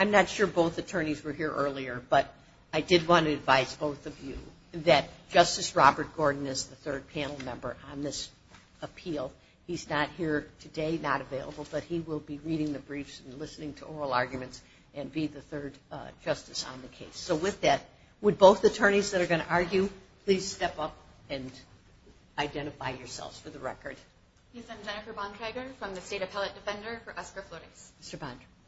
I'm not sure both attorneys were here earlier, but I did want to advise both of you that Justice Robert Gordon is the third panel member on this appeal. He's not here today, not available, but he will be reading the briefs and listening to oral arguments and be the third justice on the case. So with that, would both attorneys that are going to argue, please step up and identify yourselves for the record. Yes, I'm Jennifer Bontrager from the State Appellate Defender for Oscar Flores.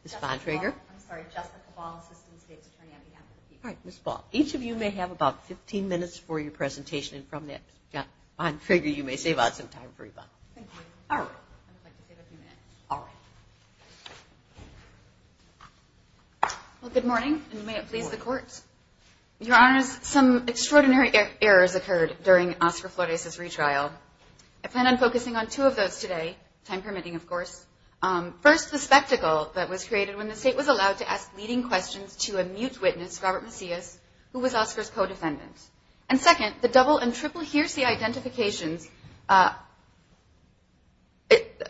Ms. Bontrager. I'm sorry, Jessica Ball, Assistant State's Attorney on behalf of the people. All right, Ms. Ball. Each of you may have about 15 minutes for your presentation, and from that, Ms. Bontrager, you may save out some time for your bond. Thank you. All right. I'd like to save a few minutes. All right. Well, good morning, and may it please the Court. Your Honors, some extraordinary errors occurred during Oscar Flores' retrial. I plan on focusing on two of those today, time permitting, of course. First, the spectacle that was created when the State was allowed to ask leading questions to a mute witness, Robert Macias, who was Oscar's co-defendant. And second, the double and triple hearsay identifications,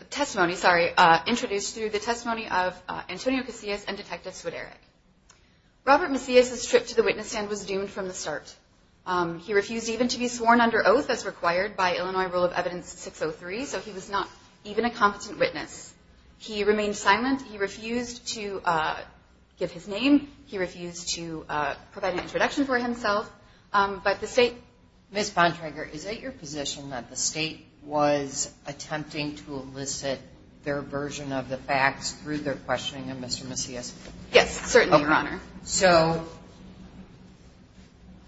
testimony, sorry, introduced through the testimony of Antonio Casillas and Detective Swideric. Robert Macias' trip to the witness stand was doomed from the start. He refused even to be sworn under oath as required by Illinois Rule of Evidence 603, so he was not even a competent witness. He remained silent. He refused to give his name. He refused to provide an introduction for himself. But the State – Ms. Bontrager, is it your position that the State was attempting to elicit their version of the facts through their questioning of Mr. Macias? Yes, certainly, Your Honor. So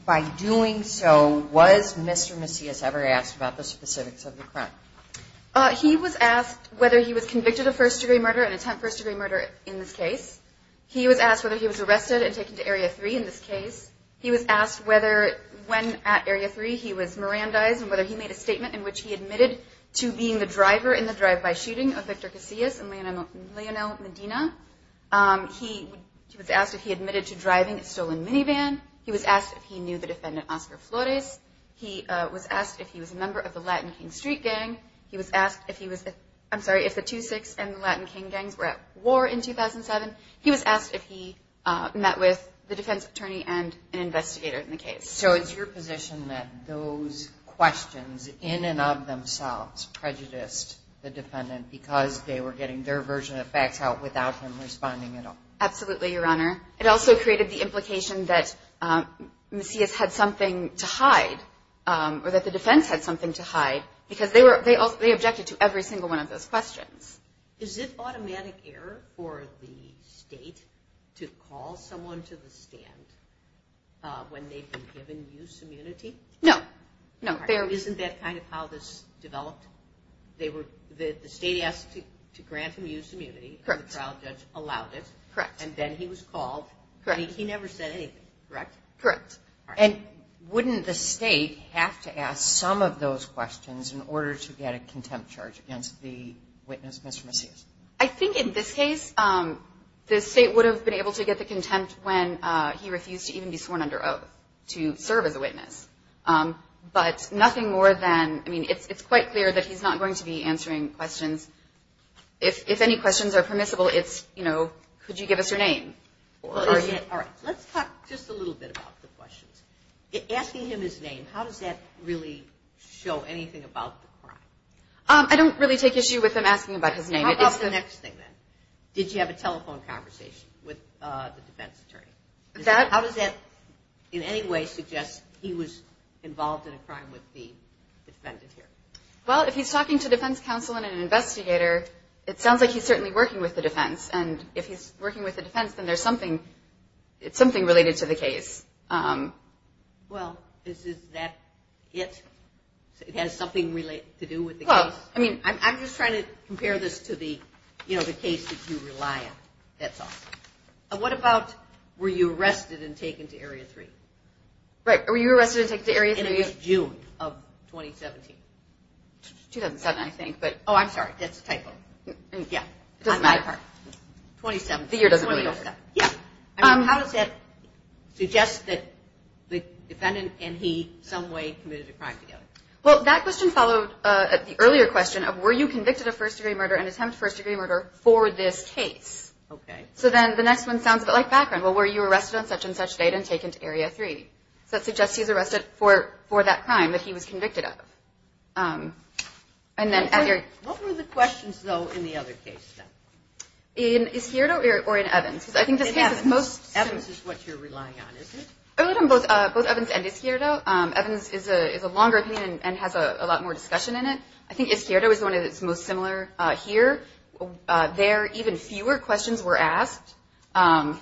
by doing so, was Mr. Macias ever asked about the specifics of the crime? He was asked whether he was convicted of first-degree murder and attempt first-degree murder in this case. He was asked whether he was arrested and taken to Area 3 in this case. He was asked whether when at Area 3 he was Mirandized and whether he made a statement in which he admitted to being the driver in the drive-by shooting of Victor Casillas and Leonel Medina. He was asked if he admitted to driving a stolen minivan. He was asked if he knew the defendant Oscar Flores. He was asked if he was a member of the Latin King Street gang. He was asked if he was – I'm sorry, if the 2-6 and the Latin King gangs were at war in 2007. He was asked if he met with the defense attorney and an investigator in the case. So it's your position that those questions in and of themselves prejudiced the defendant because they were getting their version of facts out without him responding at all? Absolutely, Your Honor. It also created the implication that Macias had something to hide or that the defense had something to hide because they objected to every single one of those questions. Is it automatic error for the state to call someone to the stand when they've been given use immunity? No, no. Isn't that kind of how this developed? The state asked to grant him use immunity. Correct. And the trial judge allowed it. Correct. And then he was called. Correct. He never said anything, correct? Correct. And wouldn't the state have to ask some of those questions in order to get a contempt charge against the witness, Mr. Macias? I think in this case, the state would have been able to get the contempt when he refused to even be sworn under oath to serve as a witness. But nothing more than – I mean, it's quite clear that he's not going to be answering questions. If any questions are permissible, it's, you know, could you give us your name? All right. Let's talk just a little bit about the questions. Asking him his name, how does that really show anything about the crime? I don't really take issue with him asking about his name. How about the next thing, then? Did you have a telephone conversation with the defense attorney? How does that in any way suggest he was involved in a crime with the defendant here? Well, if he's talking to defense counsel and an investigator, it sounds like he's certainly working with the defense. And if he's working with the defense, then there's something – it's something related to the case. Well, is that it? It has something to do with the case? Well, I mean – I'm just trying to compare this to the, you know, the case that you rely on. That's all. What about were you arrested and taken to Area 3? Right. Were you arrested and taken to Area 3? In June of 2017. 2007, I think. Oh, I'm sorry. That's a typo. Yeah. It doesn't matter. 2017. The year doesn't really matter. Yeah. I mean, how does that suggest that the defendant and he some way committed a crime together? Well, that question followed the earlier question of were you convicted of first-degree murder and attempt first-degree murder for this case? Okay. So then the next one sounds a bit like background. Well, were you arrested on such-and-such date and taken to Area 3? So that suggests he's arrested for that crime that he was convicted of. What were the questions, though, in the other case, then? In Ischierdo or in Evans? Evans is what you're relying on, isn't it? I'm relying on both Evans and Ischierdo. Evans is a longer opinion and has a lot more discussion in it. I think Ischierdo is one that is most similar here. There, even fewer questions were asked. In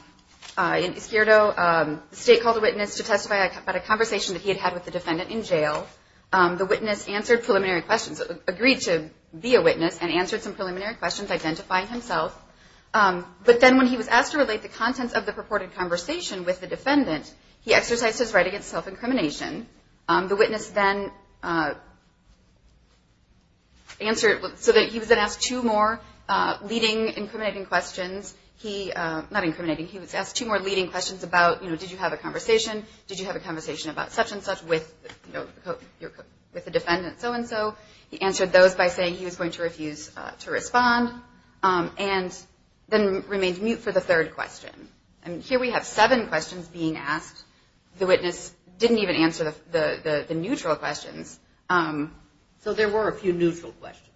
Ischierdo, the State called a witness to testify about a conversation that he had had with the defendant in jail. The witness answered preliminary questions, agreed to be a witness and answered some preliminary questions identifying himself. But then when he was asked to relate the contents of the purported conversation with the defendant, he exercised his right against self-incrimination. The witness then answered so that he was then asked two more leading incriminating questions. Not incriminating. He was asked two more leading questions about, you know, did you have a conversation, did you have a conversation about such and such with the defendant, so and so. He answered those by saying he was going to refuse to respond and then remained mute for the third question. And here we have seven questions being asked. The witness didn't even answer the neutral questions. So there were a few neutral questions?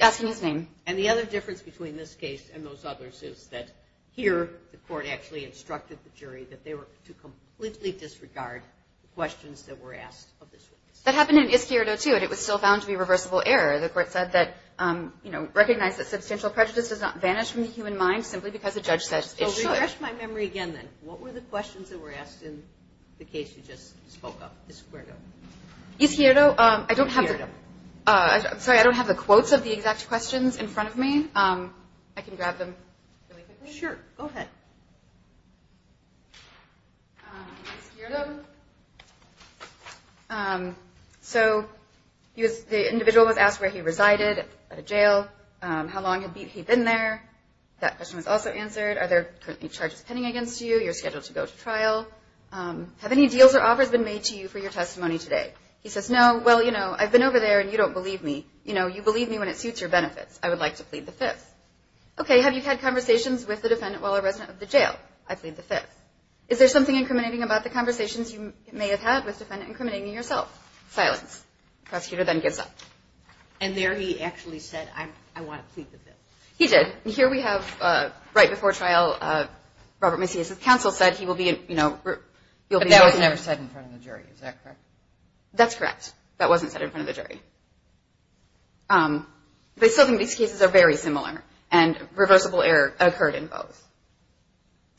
Asking his name. And the other difference between this case and those others is that here the court actually instructed the jury that they were to completely disregard the questions that were asked of this witness. That happened in Ischierdo, too, and it was still found to be reversible error. The court said that, you know, recognize that substantial prejudice does not vanish from the human mind simply because a judge says it should. Well, refresh my memory again, then. What were the questions that were asked in the case you just spoke of, Ischierdo? Ischierdo, I don't have the- Ischierdo. I can grab them really quickly. Sure. Go ahead. Ischierdo. So the individual was asked where he resided at a jail, how long had he been there. That question was also answered. Are there currently charges pending against you? You're scheduled to go to trial. Have any deals or offers been made to you for your testimony today? He says, no. Well, you know, I've been over there and you don't believe me. You know, you believe me when it suits your benefits. I would like to plead the fifth. Okay, have you had conversations with the defendant while a resident of the jail? I plead the fifth. Is there something incriminating about the conversations you may have had with the defendant incriminating yourself? Silence. The prosecutor then gives up. And there he actually said, I want to plead the fifth. He did. Here we have right before trial, Robert Macias' counsel said he will be, you know- But that was never said in front of the jury. Is that correct? That's correct. That wasn't said in front of the jury. They still think these cases are very similar. And reversible error occurred in both.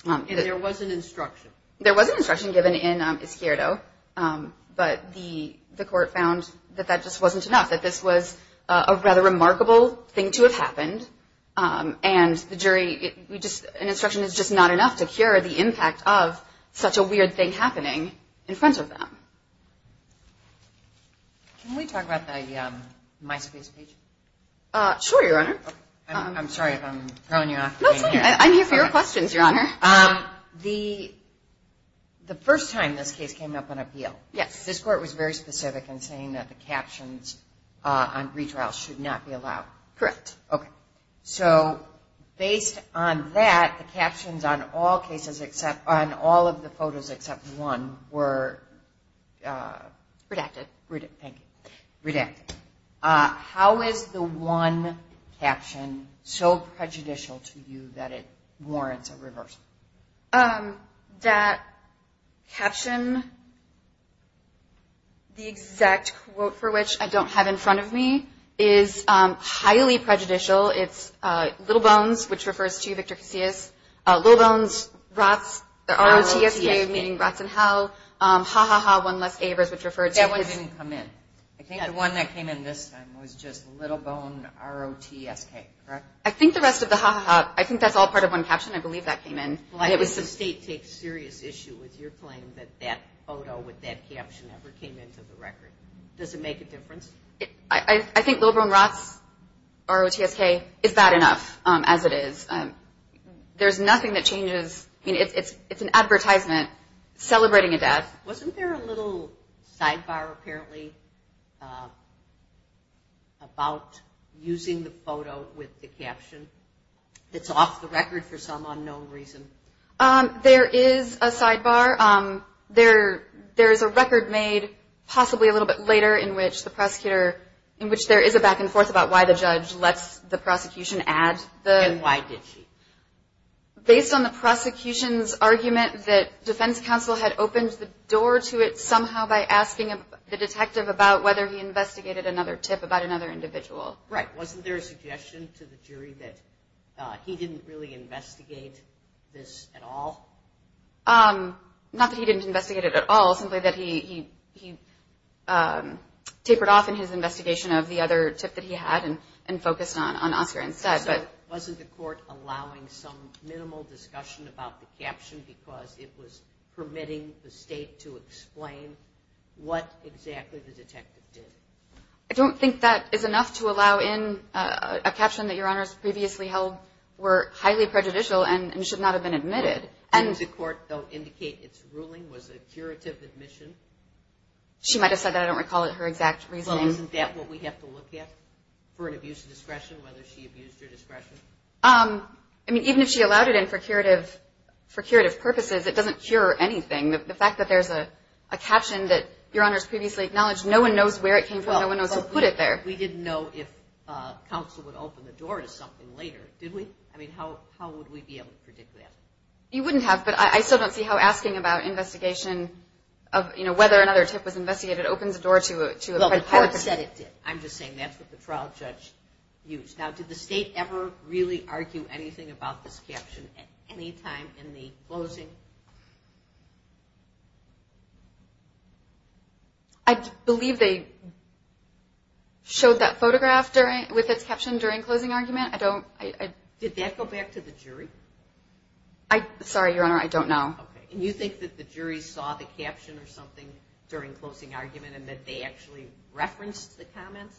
And there was an instruction. There was an instruction given in Isquierdo. But the court found that that just wasn't enough, that this was a rather remarkable thing to have happened. And the jury, an instruction is just not enough to cure the impact of such a weird thing happening in front of them. Can we talk about the MySpace page? Sure, Your Honor. I'm sorry if I'm throwing you off. No, it's fine. I'm here for your questions, Your Honor. The first time this case came up on appeal, this court was very specific in saying that the captions on redrawal should not be allowed. Correct. Okay. So based on that, the captions on all of the photos except one were- Redacted. Thank you. Redacted. How is the one caption so prejudicial to you that it warrants a reversal? That caption, the exact quote for which I don't have in front of me, is highly prejudicial. It's Little Bones, which refers to Victor Casillas. Little Bones, Rots, the R-O-T-S-K, meaning Rots in Hell. Ha, ha, ha, one less Avers, which refers to- That one didn't come in. I think the one that came in this time was just Little Bone R-O-T-S-K, correct? I think the rest of the ha, ha, ha, I think that's all part of one caption. I believe that came in. Well, I guess the state takes serious issue with your claim that that photo with that caption ever came into the record. Does it make a difference? I think Little Bone Rots, R-O-T-S-K, is bad enough as it is. There's nothing that changes. I mean, it's an advertisement celebrating a death. Wasn't there a little sidebar, apparently, about using the photo with the caption that's off the record for some unknown reason? There is a sidebar. There is a record made possibly a little bit later in which there is a back and forth about why the judge lets the prosecution add the- And why did she? Based on the prosecution's argument that defense counsel had opened the door to it somehow by asking the detective about whether he investigated another tip about another individual. Right. Wasn't there a suggestion to the jury that he didn't really investigate this at all? Not that he didn't investigate it at all, simply that he tapered off in his investigation of the other tip that he had and focused on Oscar instead. Wasn't the court allowing some minimal discussion about the caption because it was permitting the state to explain what exactly the detective did? I don't think that is enough to allow in a caption that Your Honors previously held were highly prejudicial and should not have been admitted. Didn't the court, though, indicate its ruling was a curative admission? She might have said that. I don't recall her exact reasoning. Isn't that what we have to look at for an abuse of discretion, whether she abused her discretion? I mean, even if she allowed it in for curative purposes, it doesn't cure anything. The fact that there's a caption that Your Honors previously acknowledged, no one knows where it came from, no one knows who put it there. We didn't know if counsel would open the door to something later, did we? I mean, how would we be able to predict that? You wouldn't have, but I still don't see how asking about investigation of, you know, whether another tip was investigated opens the door to a- I said it did. I'm just saying that's what the trial judge used. Now, did the state ever really argue anything about this caption at any time in the closing? I believe they showed that photograph with its caption during closing argument. I don't- Did that go back to the jury? Sorry, Your Honor, I don't know. Okay, and you think that the jury saw the caption or something during closing argument and that they actually referenced the comments,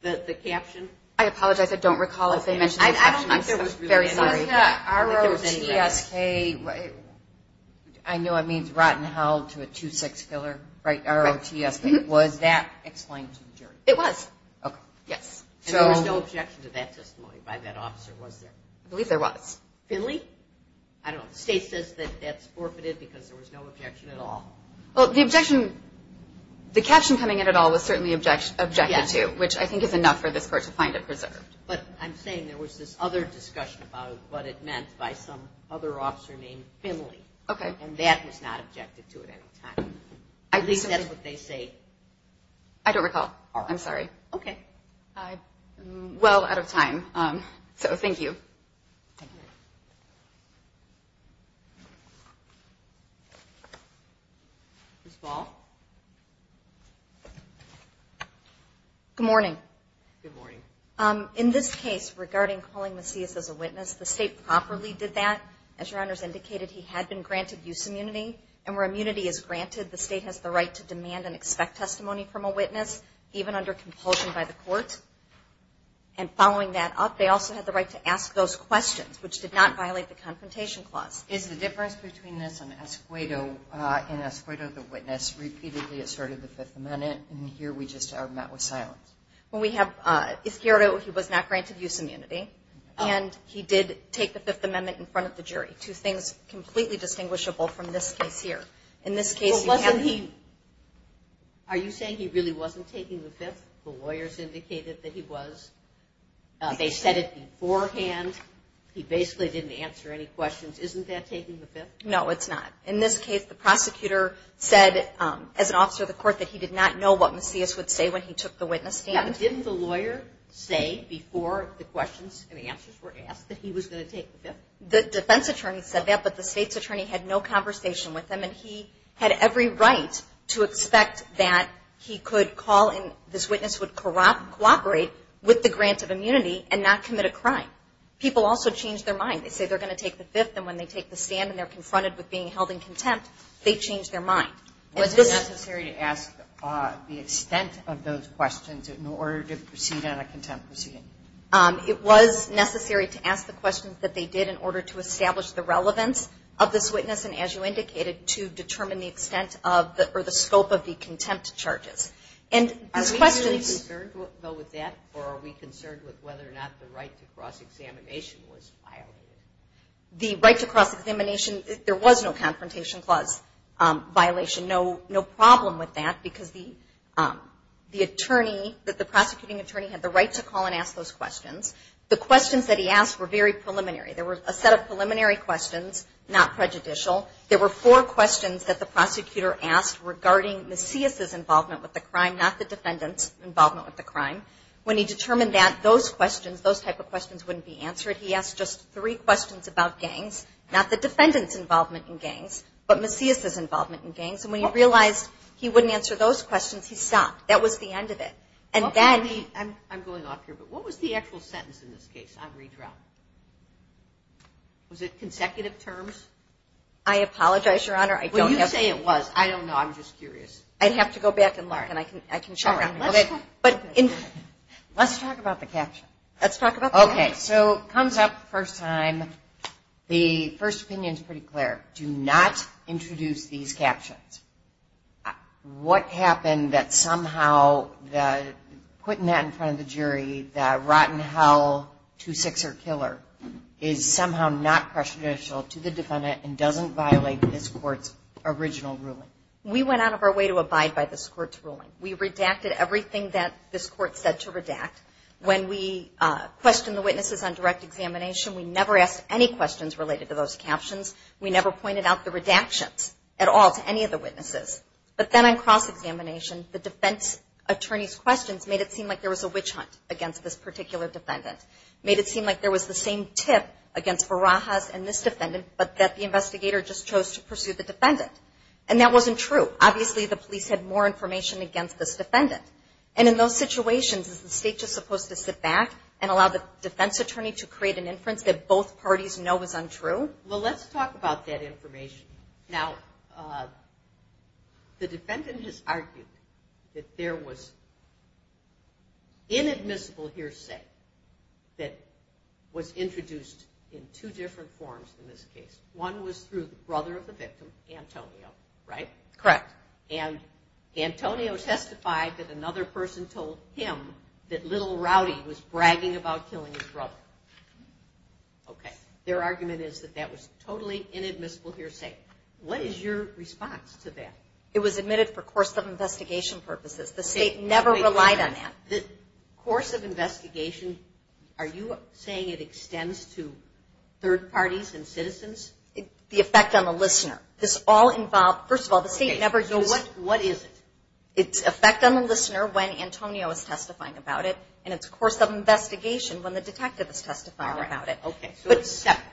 the caption? I apologize, I don't recall if they mentioned the caption. I don't think there was really a caption. Was the ROTSK, I know it means rotten hell to a two-sex killer, right, ROTSK, was that explained to the jury? It was. Okay. Yes. And there was no objection to that testimony by that officer, was there? I believe there was. Finley? I don't know. The state says that that's forfeited because there was no objection at all. Well, the objection, the caption coming in at all was certainly objected to, which I think is enough for this Court to find it preserved. But I'm saying there was this other discussion about what it meant by some other officer named Finley. Okay. And that was not objected to at any time. At least that's what they say. I don't recall. I'm sorry. Okay. I'm well out of time, so thank you. Thank you. Ms. Ball? Good morning. Good morning. In this case, regarding calling Macias as a witness, the state properly did that. As Your Honors indicated, he had been granted use immunity. And where immunity is granted, the state has the right to demand and expect testimony from a witness, even under compulsion by the court. And following that up, they also have the right to ask those questions, which did not violate the Confrontation Clause. Is the difference between this and Escuedo, in Escuedo, the witness, repeatedly asserted the Fifth Amendment? And here we just are met with silence. Well, we have Isquerdo. He was not granted use immunity. And he did take the Fifth Amendment in front of the jury. Two things completely distinguishable from this case here. In this case, you have the – They said it beforehand. He basically didn't answer any questions. Isn't that taking the Fifth? No, it's not. In this case, the prosecutor said, as an officer of the court, that he did not know what Macias would say when he took the witness stand. Didn't the lawyer say before the questions and answers were asked that he was going to take the Fifth? The defense attorney said that, but the state's attorney had no conversation with him. And he had every right to expect that he could call and this witness would cooperate with the grant of immunity and not commit a crime. People also change their mind. They say they're going to take the Fifth, and when they take the stand and they're confronted with being held in contempt, they change their mind. Was it necessary to ask the extent of those questions in order to proceed on a contempt proceeding? It was necessary to ask the questions that they did in order to establish the relevance of this witness, and as you indicated, to determine the extent or the scope of the contempt charges. Are we really concerned, though, with that, or are we concerned with whether or not the right to cross-examination was violated? The right to cross-examination, there was no Confrontation Clause violation. No problem with that because the attorney, the prosecuting attorney, had the right to call and ask those questions. The questions that he asked were very preliminary. There were a set of preliminary questions, not prejudicial. There were four questions that the prosecutor asked regarding Macias' involvement with the crime, not the defendant's involvement with the crime. When he determined that those questions, those type of questions, wouldn't be answered, he asked just three questions about gangs, not the defendant's involvement in gangs, but Macias' involvement in gangs. And when he realized he wouldn't answer those questions, he stopped. That was the end of it. I'm going off here, but what was the actual sentence in this case on redraft? Was it consecutive terms? I apologize, Your Honor. Well, you say it was. I don't know. I'm just curious. I'd have to go back and learn, and I can check on it. Let's talk about the caption. Let's talk about the caption. Okay. So it comes up the first time. The first opinion is pretty clear. Do not introduce these captions. What happened that somehow putting that in front of the jury, the rotten hell two-sixer killer, is somehow not presciential to the defendant and doesn't violate this court's original ruling? We went out of our way to abide by this court's ruling. We redacted everything that this court said to redact. When we questioned the witnesses on direct examination, we never asked any questions related to those captions. We never pointed out the redactions at all to any of the witnesses. But then on cross-examination, the defense attorney's questions made it seem like there was a witch hunt against this particular defendant, made it seem like there was the same tip against Barajas and this defendant, but that the investigator just chose to pursue the defendant. And that wasn't true. Obviously, the police had more information against this defendant. And in those situations, is the state just supposed to sit back and allow the defense attorney to create an inference that both parties know is untrue? Well, let's talk about that information. Now, the defendant has argued that there was inadmissible hearsay that was introduced in two different forms in this case. One was through the brother of the victim, Antonio, right? Correct. And Antonio testified that another person told him that Little Rowdy was bragging about killing his brother. Okay. Their argument is that that was totally inadmissible hearsay. What is your response to that? It was admitted for course of investigation purposes. The state never relied on that. The course of investigation, are you saying it extends to third parties and citizens? The effect on the listener. This all involved – first of all, the state never used – Okay. So what is it? It's effect on the listener when Antonio is testifying about it and its course of investigation when the detectives testify about it. Okay. So it's separate.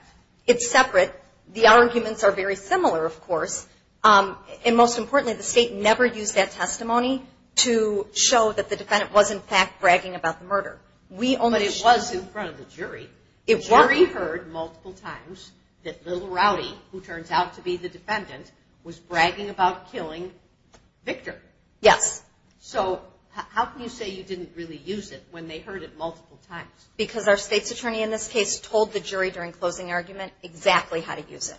It's separate. The arguments are very similar, of course. And most importantly, the state never used that testimony to show that the defendant was in fact bragging about the murder. But it was in front of the jury. It was. The jury heard multiple times that Little Rowdy, who turns out to be the defendant, was bragging about killing Victor. Yes. So how can you say you didn't really use it when they heard it multiple times? Because our state's attorney in this case told the jury during closing argument exactly how to use it.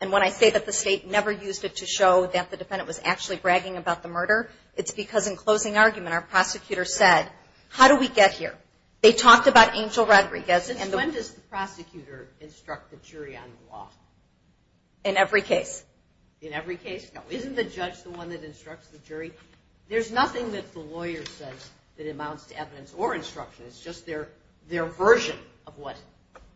And when I say that the state never used it to show that the defendant was actually bragging about the murder, it's because in closing argument our prosecutor said, how do we get here? They talked about Angel Rodriguez. Since when does the prosecutor instruct the jury on the law? In every case. In every case? No. Isn't the judge the one that instructs the jury? There's nothing that the lawyer says that amounts to evidence or instruction. It's just their version of what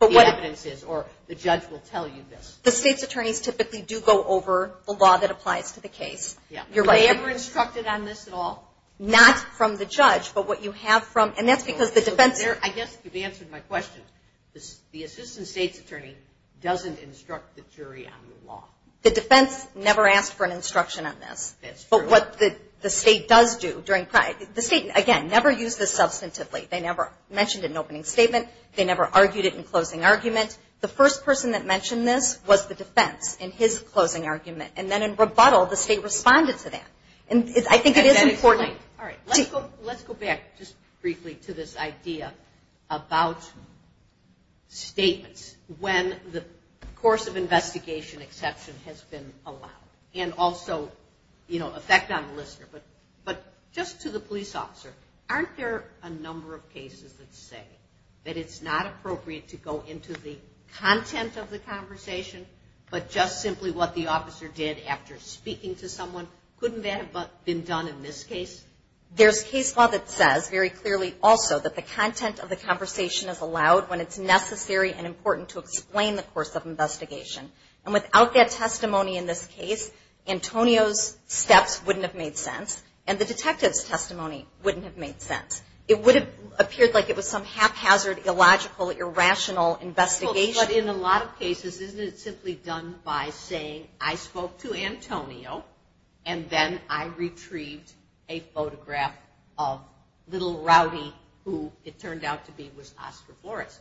the evidence is, or the judge will tell you this. The state's attorneys typically do go over the law that applies to the case. Yeah. Were you ever instructed on this at all? Not from the judge, but what you have from – and that's because the defense – I guess you've answered my question. The assistant state's attorney doesn't instruct the jury on the law. The defense never asked for an instruction on this. That's true. But what the state does do during – the state, again, never used this substantively. They never mentioned it in an opening statement. They never argued it in closing argument. The first person that mentioned this was the defense in his closing argument, and then in rebuttal the state responded to that. And I think it is important. All right. Let's go back just briefly to this idea about statements when the course of the investigation is allowed. But just to the police officer, aren't there a number of cases that say that it's not appropriate to go into the content of the conversation, but just simply what the officer did after speaking to someone? Couldn't that have been done in this case? There's case law that says very clearly also that the content of the conversation is And without that testimony in this case, Antonio's steps wouldn't have made sense, and the detective's testimony wouldn't have made sense. It would have appeared like it was some haphazard, illogical, irrational investigation. But in a lot of cases, isn't it simply done by saying, I spoke to Antonio, and then I retrieved a photograph of little Rowdy, who it turned out to be was Oscar Flores.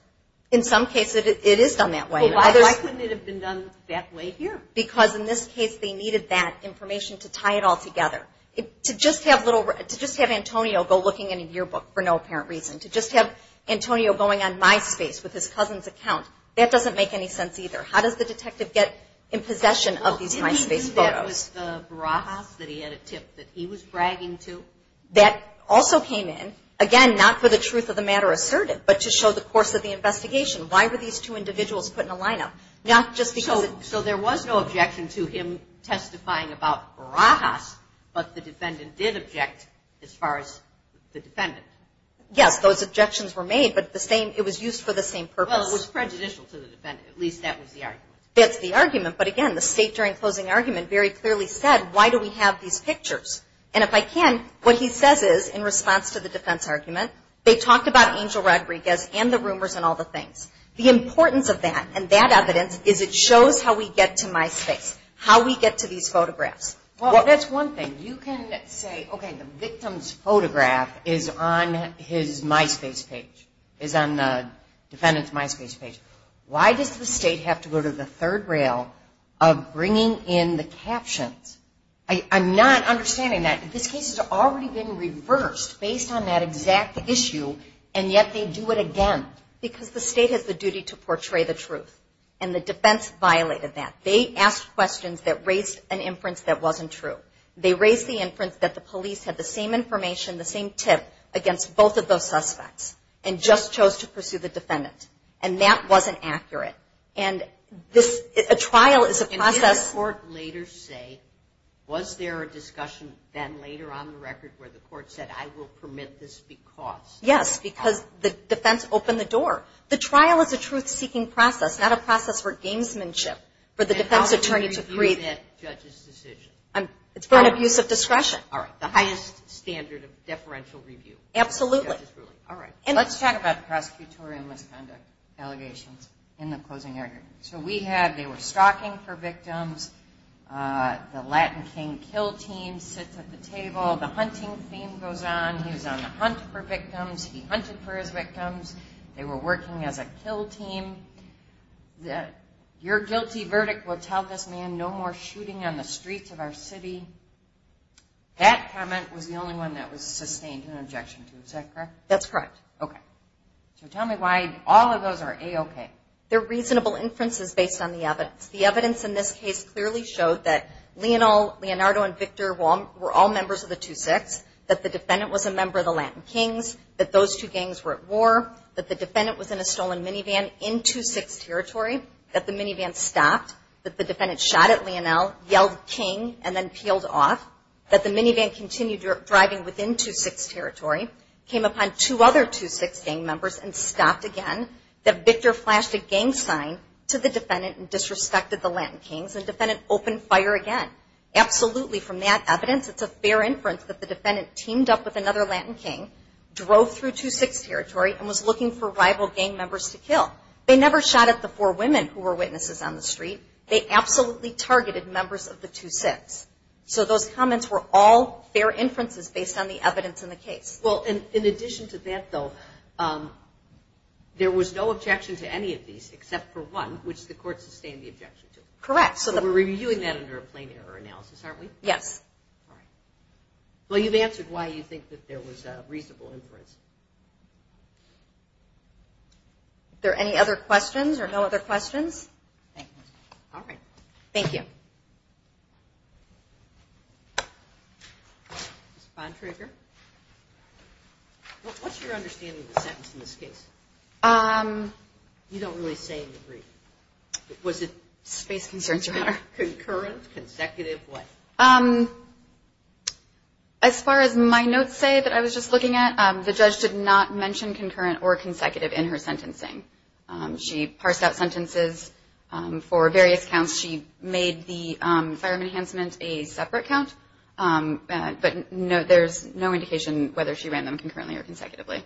In some cases, it is done that way. Why couldn't it have been done that way here? Because in this case, they needed that information to tie it all together. To just have Antonio go looking in a yearbook for no apparent reason, to just have Antonio going on MySpace with his cousin's account, that doesn't make any sense either. How does the detective get in possession of these MySpace photos? Didn't he do that with Barajas, that he had a tip that he was bragging to? That also came in, again, not for the truth of the matter asserted, but to show the course of the investigation. Why were these two individuals put in a lineup? So there was no objection to him testifying about Barajas, but the defendant did object as far as the defendant. Yes, those objections were made, but it was used for the same purpose. Well, it was prejudicial to the defendant. At least that was the argument. That's the argument. But again, the State, during closing argument, very clearly said, why do we have these pictures? And if I can, what he says is, in response to the defense argument, they talked about Angel Rodriguez and the rumors and all the things. The importance of that and that evidence is it shows how we get to MySpace, how we get to these photographs. Well, that's one thing. You can say, okay, the victim's photograph is on his MySpace page, is on the defendant's MySpace page. Why does the State have to go to the third rail of bringing in the captions? I'm not understanding that. This case has already been reversed based on that exact issue, and yet they do it again. Because the State has the duty to portray the truth, and the defense violated that. They asked questions that raised an inference that wasn't true. They raised the inference that the police had the same information, the same tip against both of those suspects and just chose to pursue the defendant. And that wasn't accurate. And a trial is a process. Did the court later say, was there a discussion then later on the record where the court said, I will permit this because... Yes, because the defense opened the door. The trial is a truth-seeking process, not a process for gamesmanship, for the defense attorney to create... And how would you review that judge's decision? It's for an abuse of discretion. All right, the highest standard of deferential review. Absolutely. All right. Let's talk about prosecutorial misconduct allegations in the closing argument. So we have, they were stalking for victims. The Latin King kill team sits at the table. The hunting theme goes on. He was on the hunt for victims. He hunted for his victims. They were working as a kill team. Your guilty verdict will tell this man no more shooting on the streets of our city. That comment was the only one that was sustained in objection to. Is that correct? That's correct. Okay. So tell me why all of those are A-okay. They're reasonable inferences based on the evidence. The evidence in this case clearly showed that Leonel, Leonardo, and Victor were all members of the 2-6, that the defendant was a member of the Latin Kings, that those two gangs were at war, that the defendant was in a stolen minivan in 2-6 territory, that the minivan stopped, that the defendant shot at Leonel, yelled King, and then peeled off, that the minivan continued driving within 2-6 territory, came upon two other 2-6 gang members and stopped again, that Victor flashed a gang sign to the defendant and disrespected the Latin Kings, and the defendant opened fire again. Absolutely, from that evidence, it's a fair inference that the defendant teamed up with another Latin King, drove through 2-6 territory, and was looking for rival gang members to kill. They never shot at the four women who were witnesses on the street. They absolutely targeted members of the 2-6. So those comments were all fair inferences based on the evidence in the case. Well, in addition to that, though, there was no objection to any of these except for one, which the court sustained the objection to. Correct. So we're reviewing that under a plain error analysis, aren't we? Yes. All right. Well, you've answered why you think that there was a reasonable inference. Are there any other questions or no other questions? All right. Thank you. Ms. Bontrager, what's your understanding of the sentence in this case? You don't really say in the brief. Was it space concerns rather? Concurrent, consecutive, what? As far as my notes say that I was just looking at, the judge did not mention concurrent or consecutive in her sentencing. She parsed out sentences for various counts. She made the firearm enhancement a separate count, but there's no indication whether she ran them concurrently or consecutively.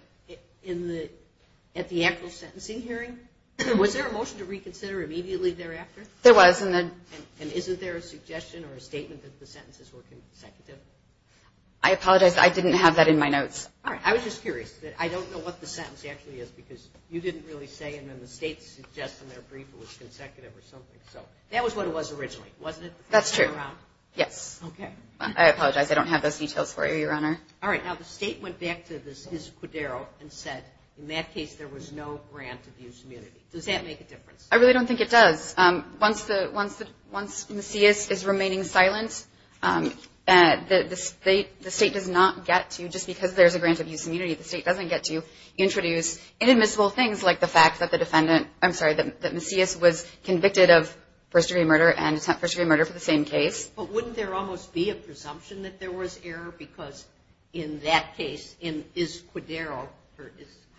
At the actual sentencing hearing, was there a motion to reconsider immediately thereafter? There was. And isn't there a suggestion or a statement that the sentences were consecutive? I apologize. I didn't have that in my notes. All right. I was just curious. I don't know what the sentence actually is because you didn't really say, and then the state suggests in their brief it was consecutive or something. So that was what it was originally, wasn't it? That's true. Yes. Okay. I apologize. I don't have those details for you, Your Honor. All right. Now, the state went back to this, his codero, and said, in that case there was no grant of use immunity. Does that make a difference? I really don't think it does. Once Macias is remaining silent, the state does not get to, just because there's a grant of use immunity, the state doesn't get to introduce inadmissible things like the fact that the defendant, I'm sorry, that Macias was convicted of first-degree murder and first-degree murder for the same case. But wouldn't there almost be a presumption that there was error? Because in that case, in his codero,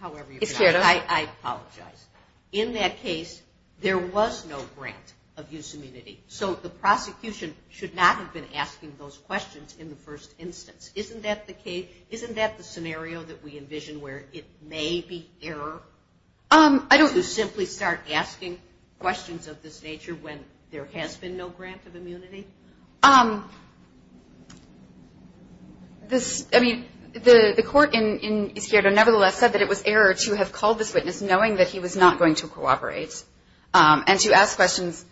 however you pronounce it, I apologize, in that case there was no grant of use immunity. So the prosecution should not have been asking those questions in the first instance. Isn't that the case? Isn't that the scenario that we envision where it may be error to simply start asking questions of this nature when there has been no grant of immunity? I mean, the court in Izquierdo, nevertheless, said that it was error to have called this witness knowing that he was not going to cooperate and to ask questions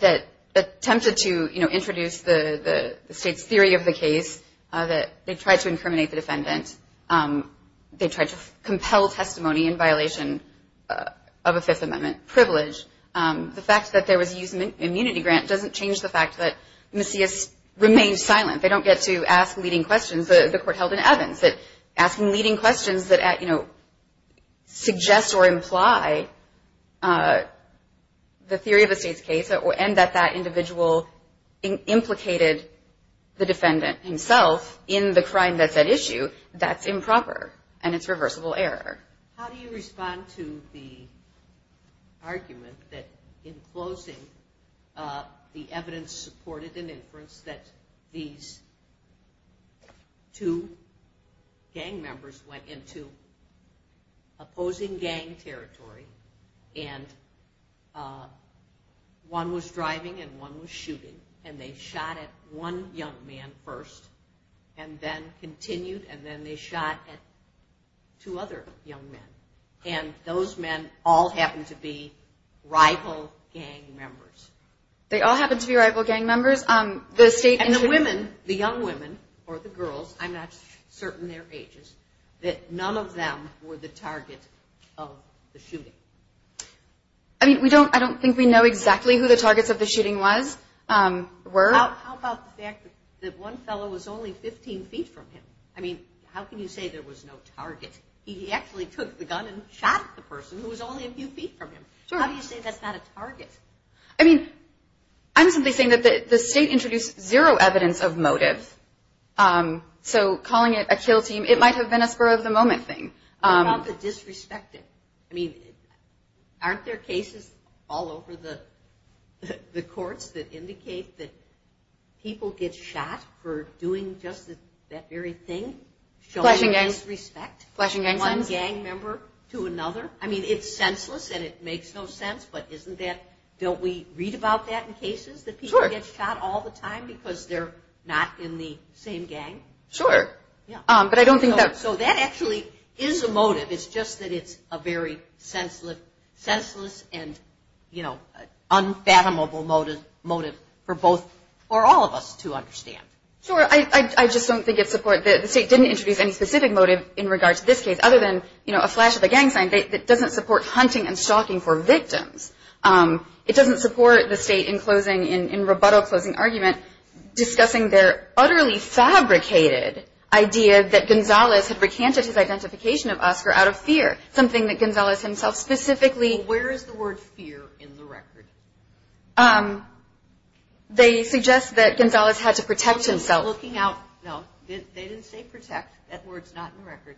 that attempted to introduce the state's theory of the case, that they tried to incriminate the defendant. They tried to compel testimony in violation of a Fifth Amendment privilege. The fact that there was use immunity grant doesn't change the fact that Macias remained silent. They don't get to ask leading questions. The court held in Evans that asking leading questions that, you know, suggests or imply the theory of a state's case and that that individual implicated the defendant himself in the crime that's at issue, that's improper and it's reversible error. How do you respond to the argument that in closing the evidence supported in inference that these two gang members went into opposing gang territory and one was driving and one was shooting and they shot at one young man first and then continued and then they shot at two other young men and those men all happened to be rival gang members? They all happened to be rival gang members. And the women, the young women or the girls, I'm not certain their ages, that none of them were the target of the shooting? I mean, I don't think we know exactly who the targets of the shooting were. How about the fact that one fellow was only 15 feet from him? I mean, how can you say there was no target? He actually took the gun and shot the person who was only a few feet from him. How do you say that's not a target? I mean, I'm simply saying that the state introduced zero evidence of motive. So calling it a kill team, it might have been a spur of the moment thing. How about the disrespecting? I mean, aren't there cases all over the courts that indicate that people get shot for doing just that very thing, showing disrespect from one gang member to another? I mean, it's senseless and it makes no sense, but isn't that, don't we read about that in cases that people get shot all the time because they're not in the same gang? Sure. So that actually is a motive. It's just that it's a very senseless and, you know, unfathomable motive for both or all of us to understand. Sure. I just don't think it's support. The state didn't introduce any specific motive in regards to this case other than, you know, a flash of a gang sign that doesn't support hunting and stalking for victims. It doesn't support the state in closing, in rebuttal closing argument, discussing their utterly fabricated idea that Gonzales had recanted his identification of Oscar out of fear, something that Gonzales himself specifically. Well, where is the word fear in the record? They suggest that Gonzales had to protect himself. No, they didn't say protect. That word's not in the record.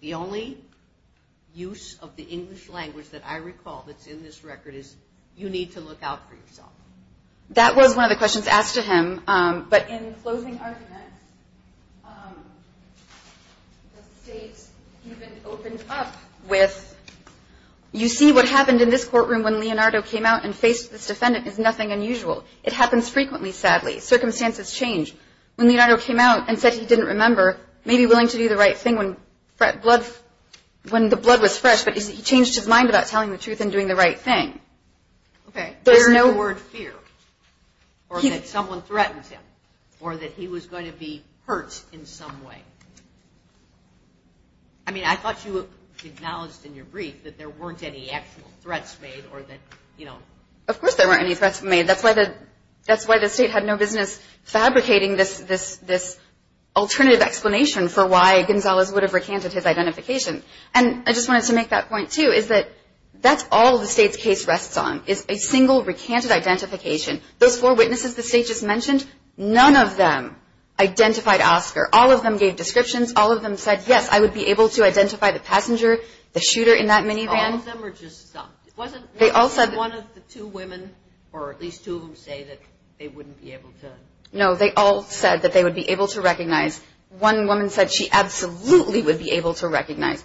The only use of the English language that I recall that's in this record is, you need to look out for yourself. That was one of the questions asked to him. But in closing arguments, the state even opened up with, you see what happened in this courtroom when Leonardo came out and faced this defendant is nothing unusual. It happens frequently, sadly. Circumstances change. When Leonardo came out and said he didn't remember, maybe willing to do the right thing when the blood was fresh, but he changed his mind about telling the truth and doing the right thing. Okay. There's no word fear or that someone threatens him or that he was going to be hurt in some way. I mean, I thought you acknowledged in your brief that there weren't any actual threats made or that, you know. Of course there weren't any threats made. That's why the state had no business fabricating this alternative explanation for why Gonzales would have recanted his identification. And I just wanted to make that point, too, is that that's all the state's case rests on, is a single recanted identification. Those four witnesses the state just mentioned, none of them identified Oscar. All of them gave descriptions. All of them said, yes, I would be able to identify the passenger, the shooter in that minivan. All of them or just some? Wasn't one of the two women or at least two of them say that they wouldn't be able to? No, they all said that they would be able to recognize. One woman said she absolutely would be able to recognize.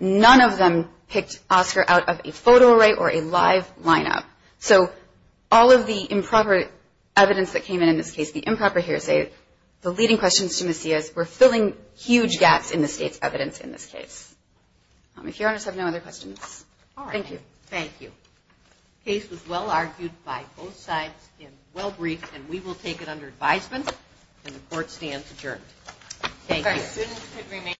None of them picked Oscar out of a photo array or a live lineup. So all of the improper evidence that came in in this case, the improper hearsay, the leading questions to Macias were filling huge gaps in the state's evidence in this case. If Your Honors have no other questions. Thank you. Thank you. The case was well argued by both sides and well briefed, and we will take it under advisement and the court stands adjourned. Thank you. Thank you.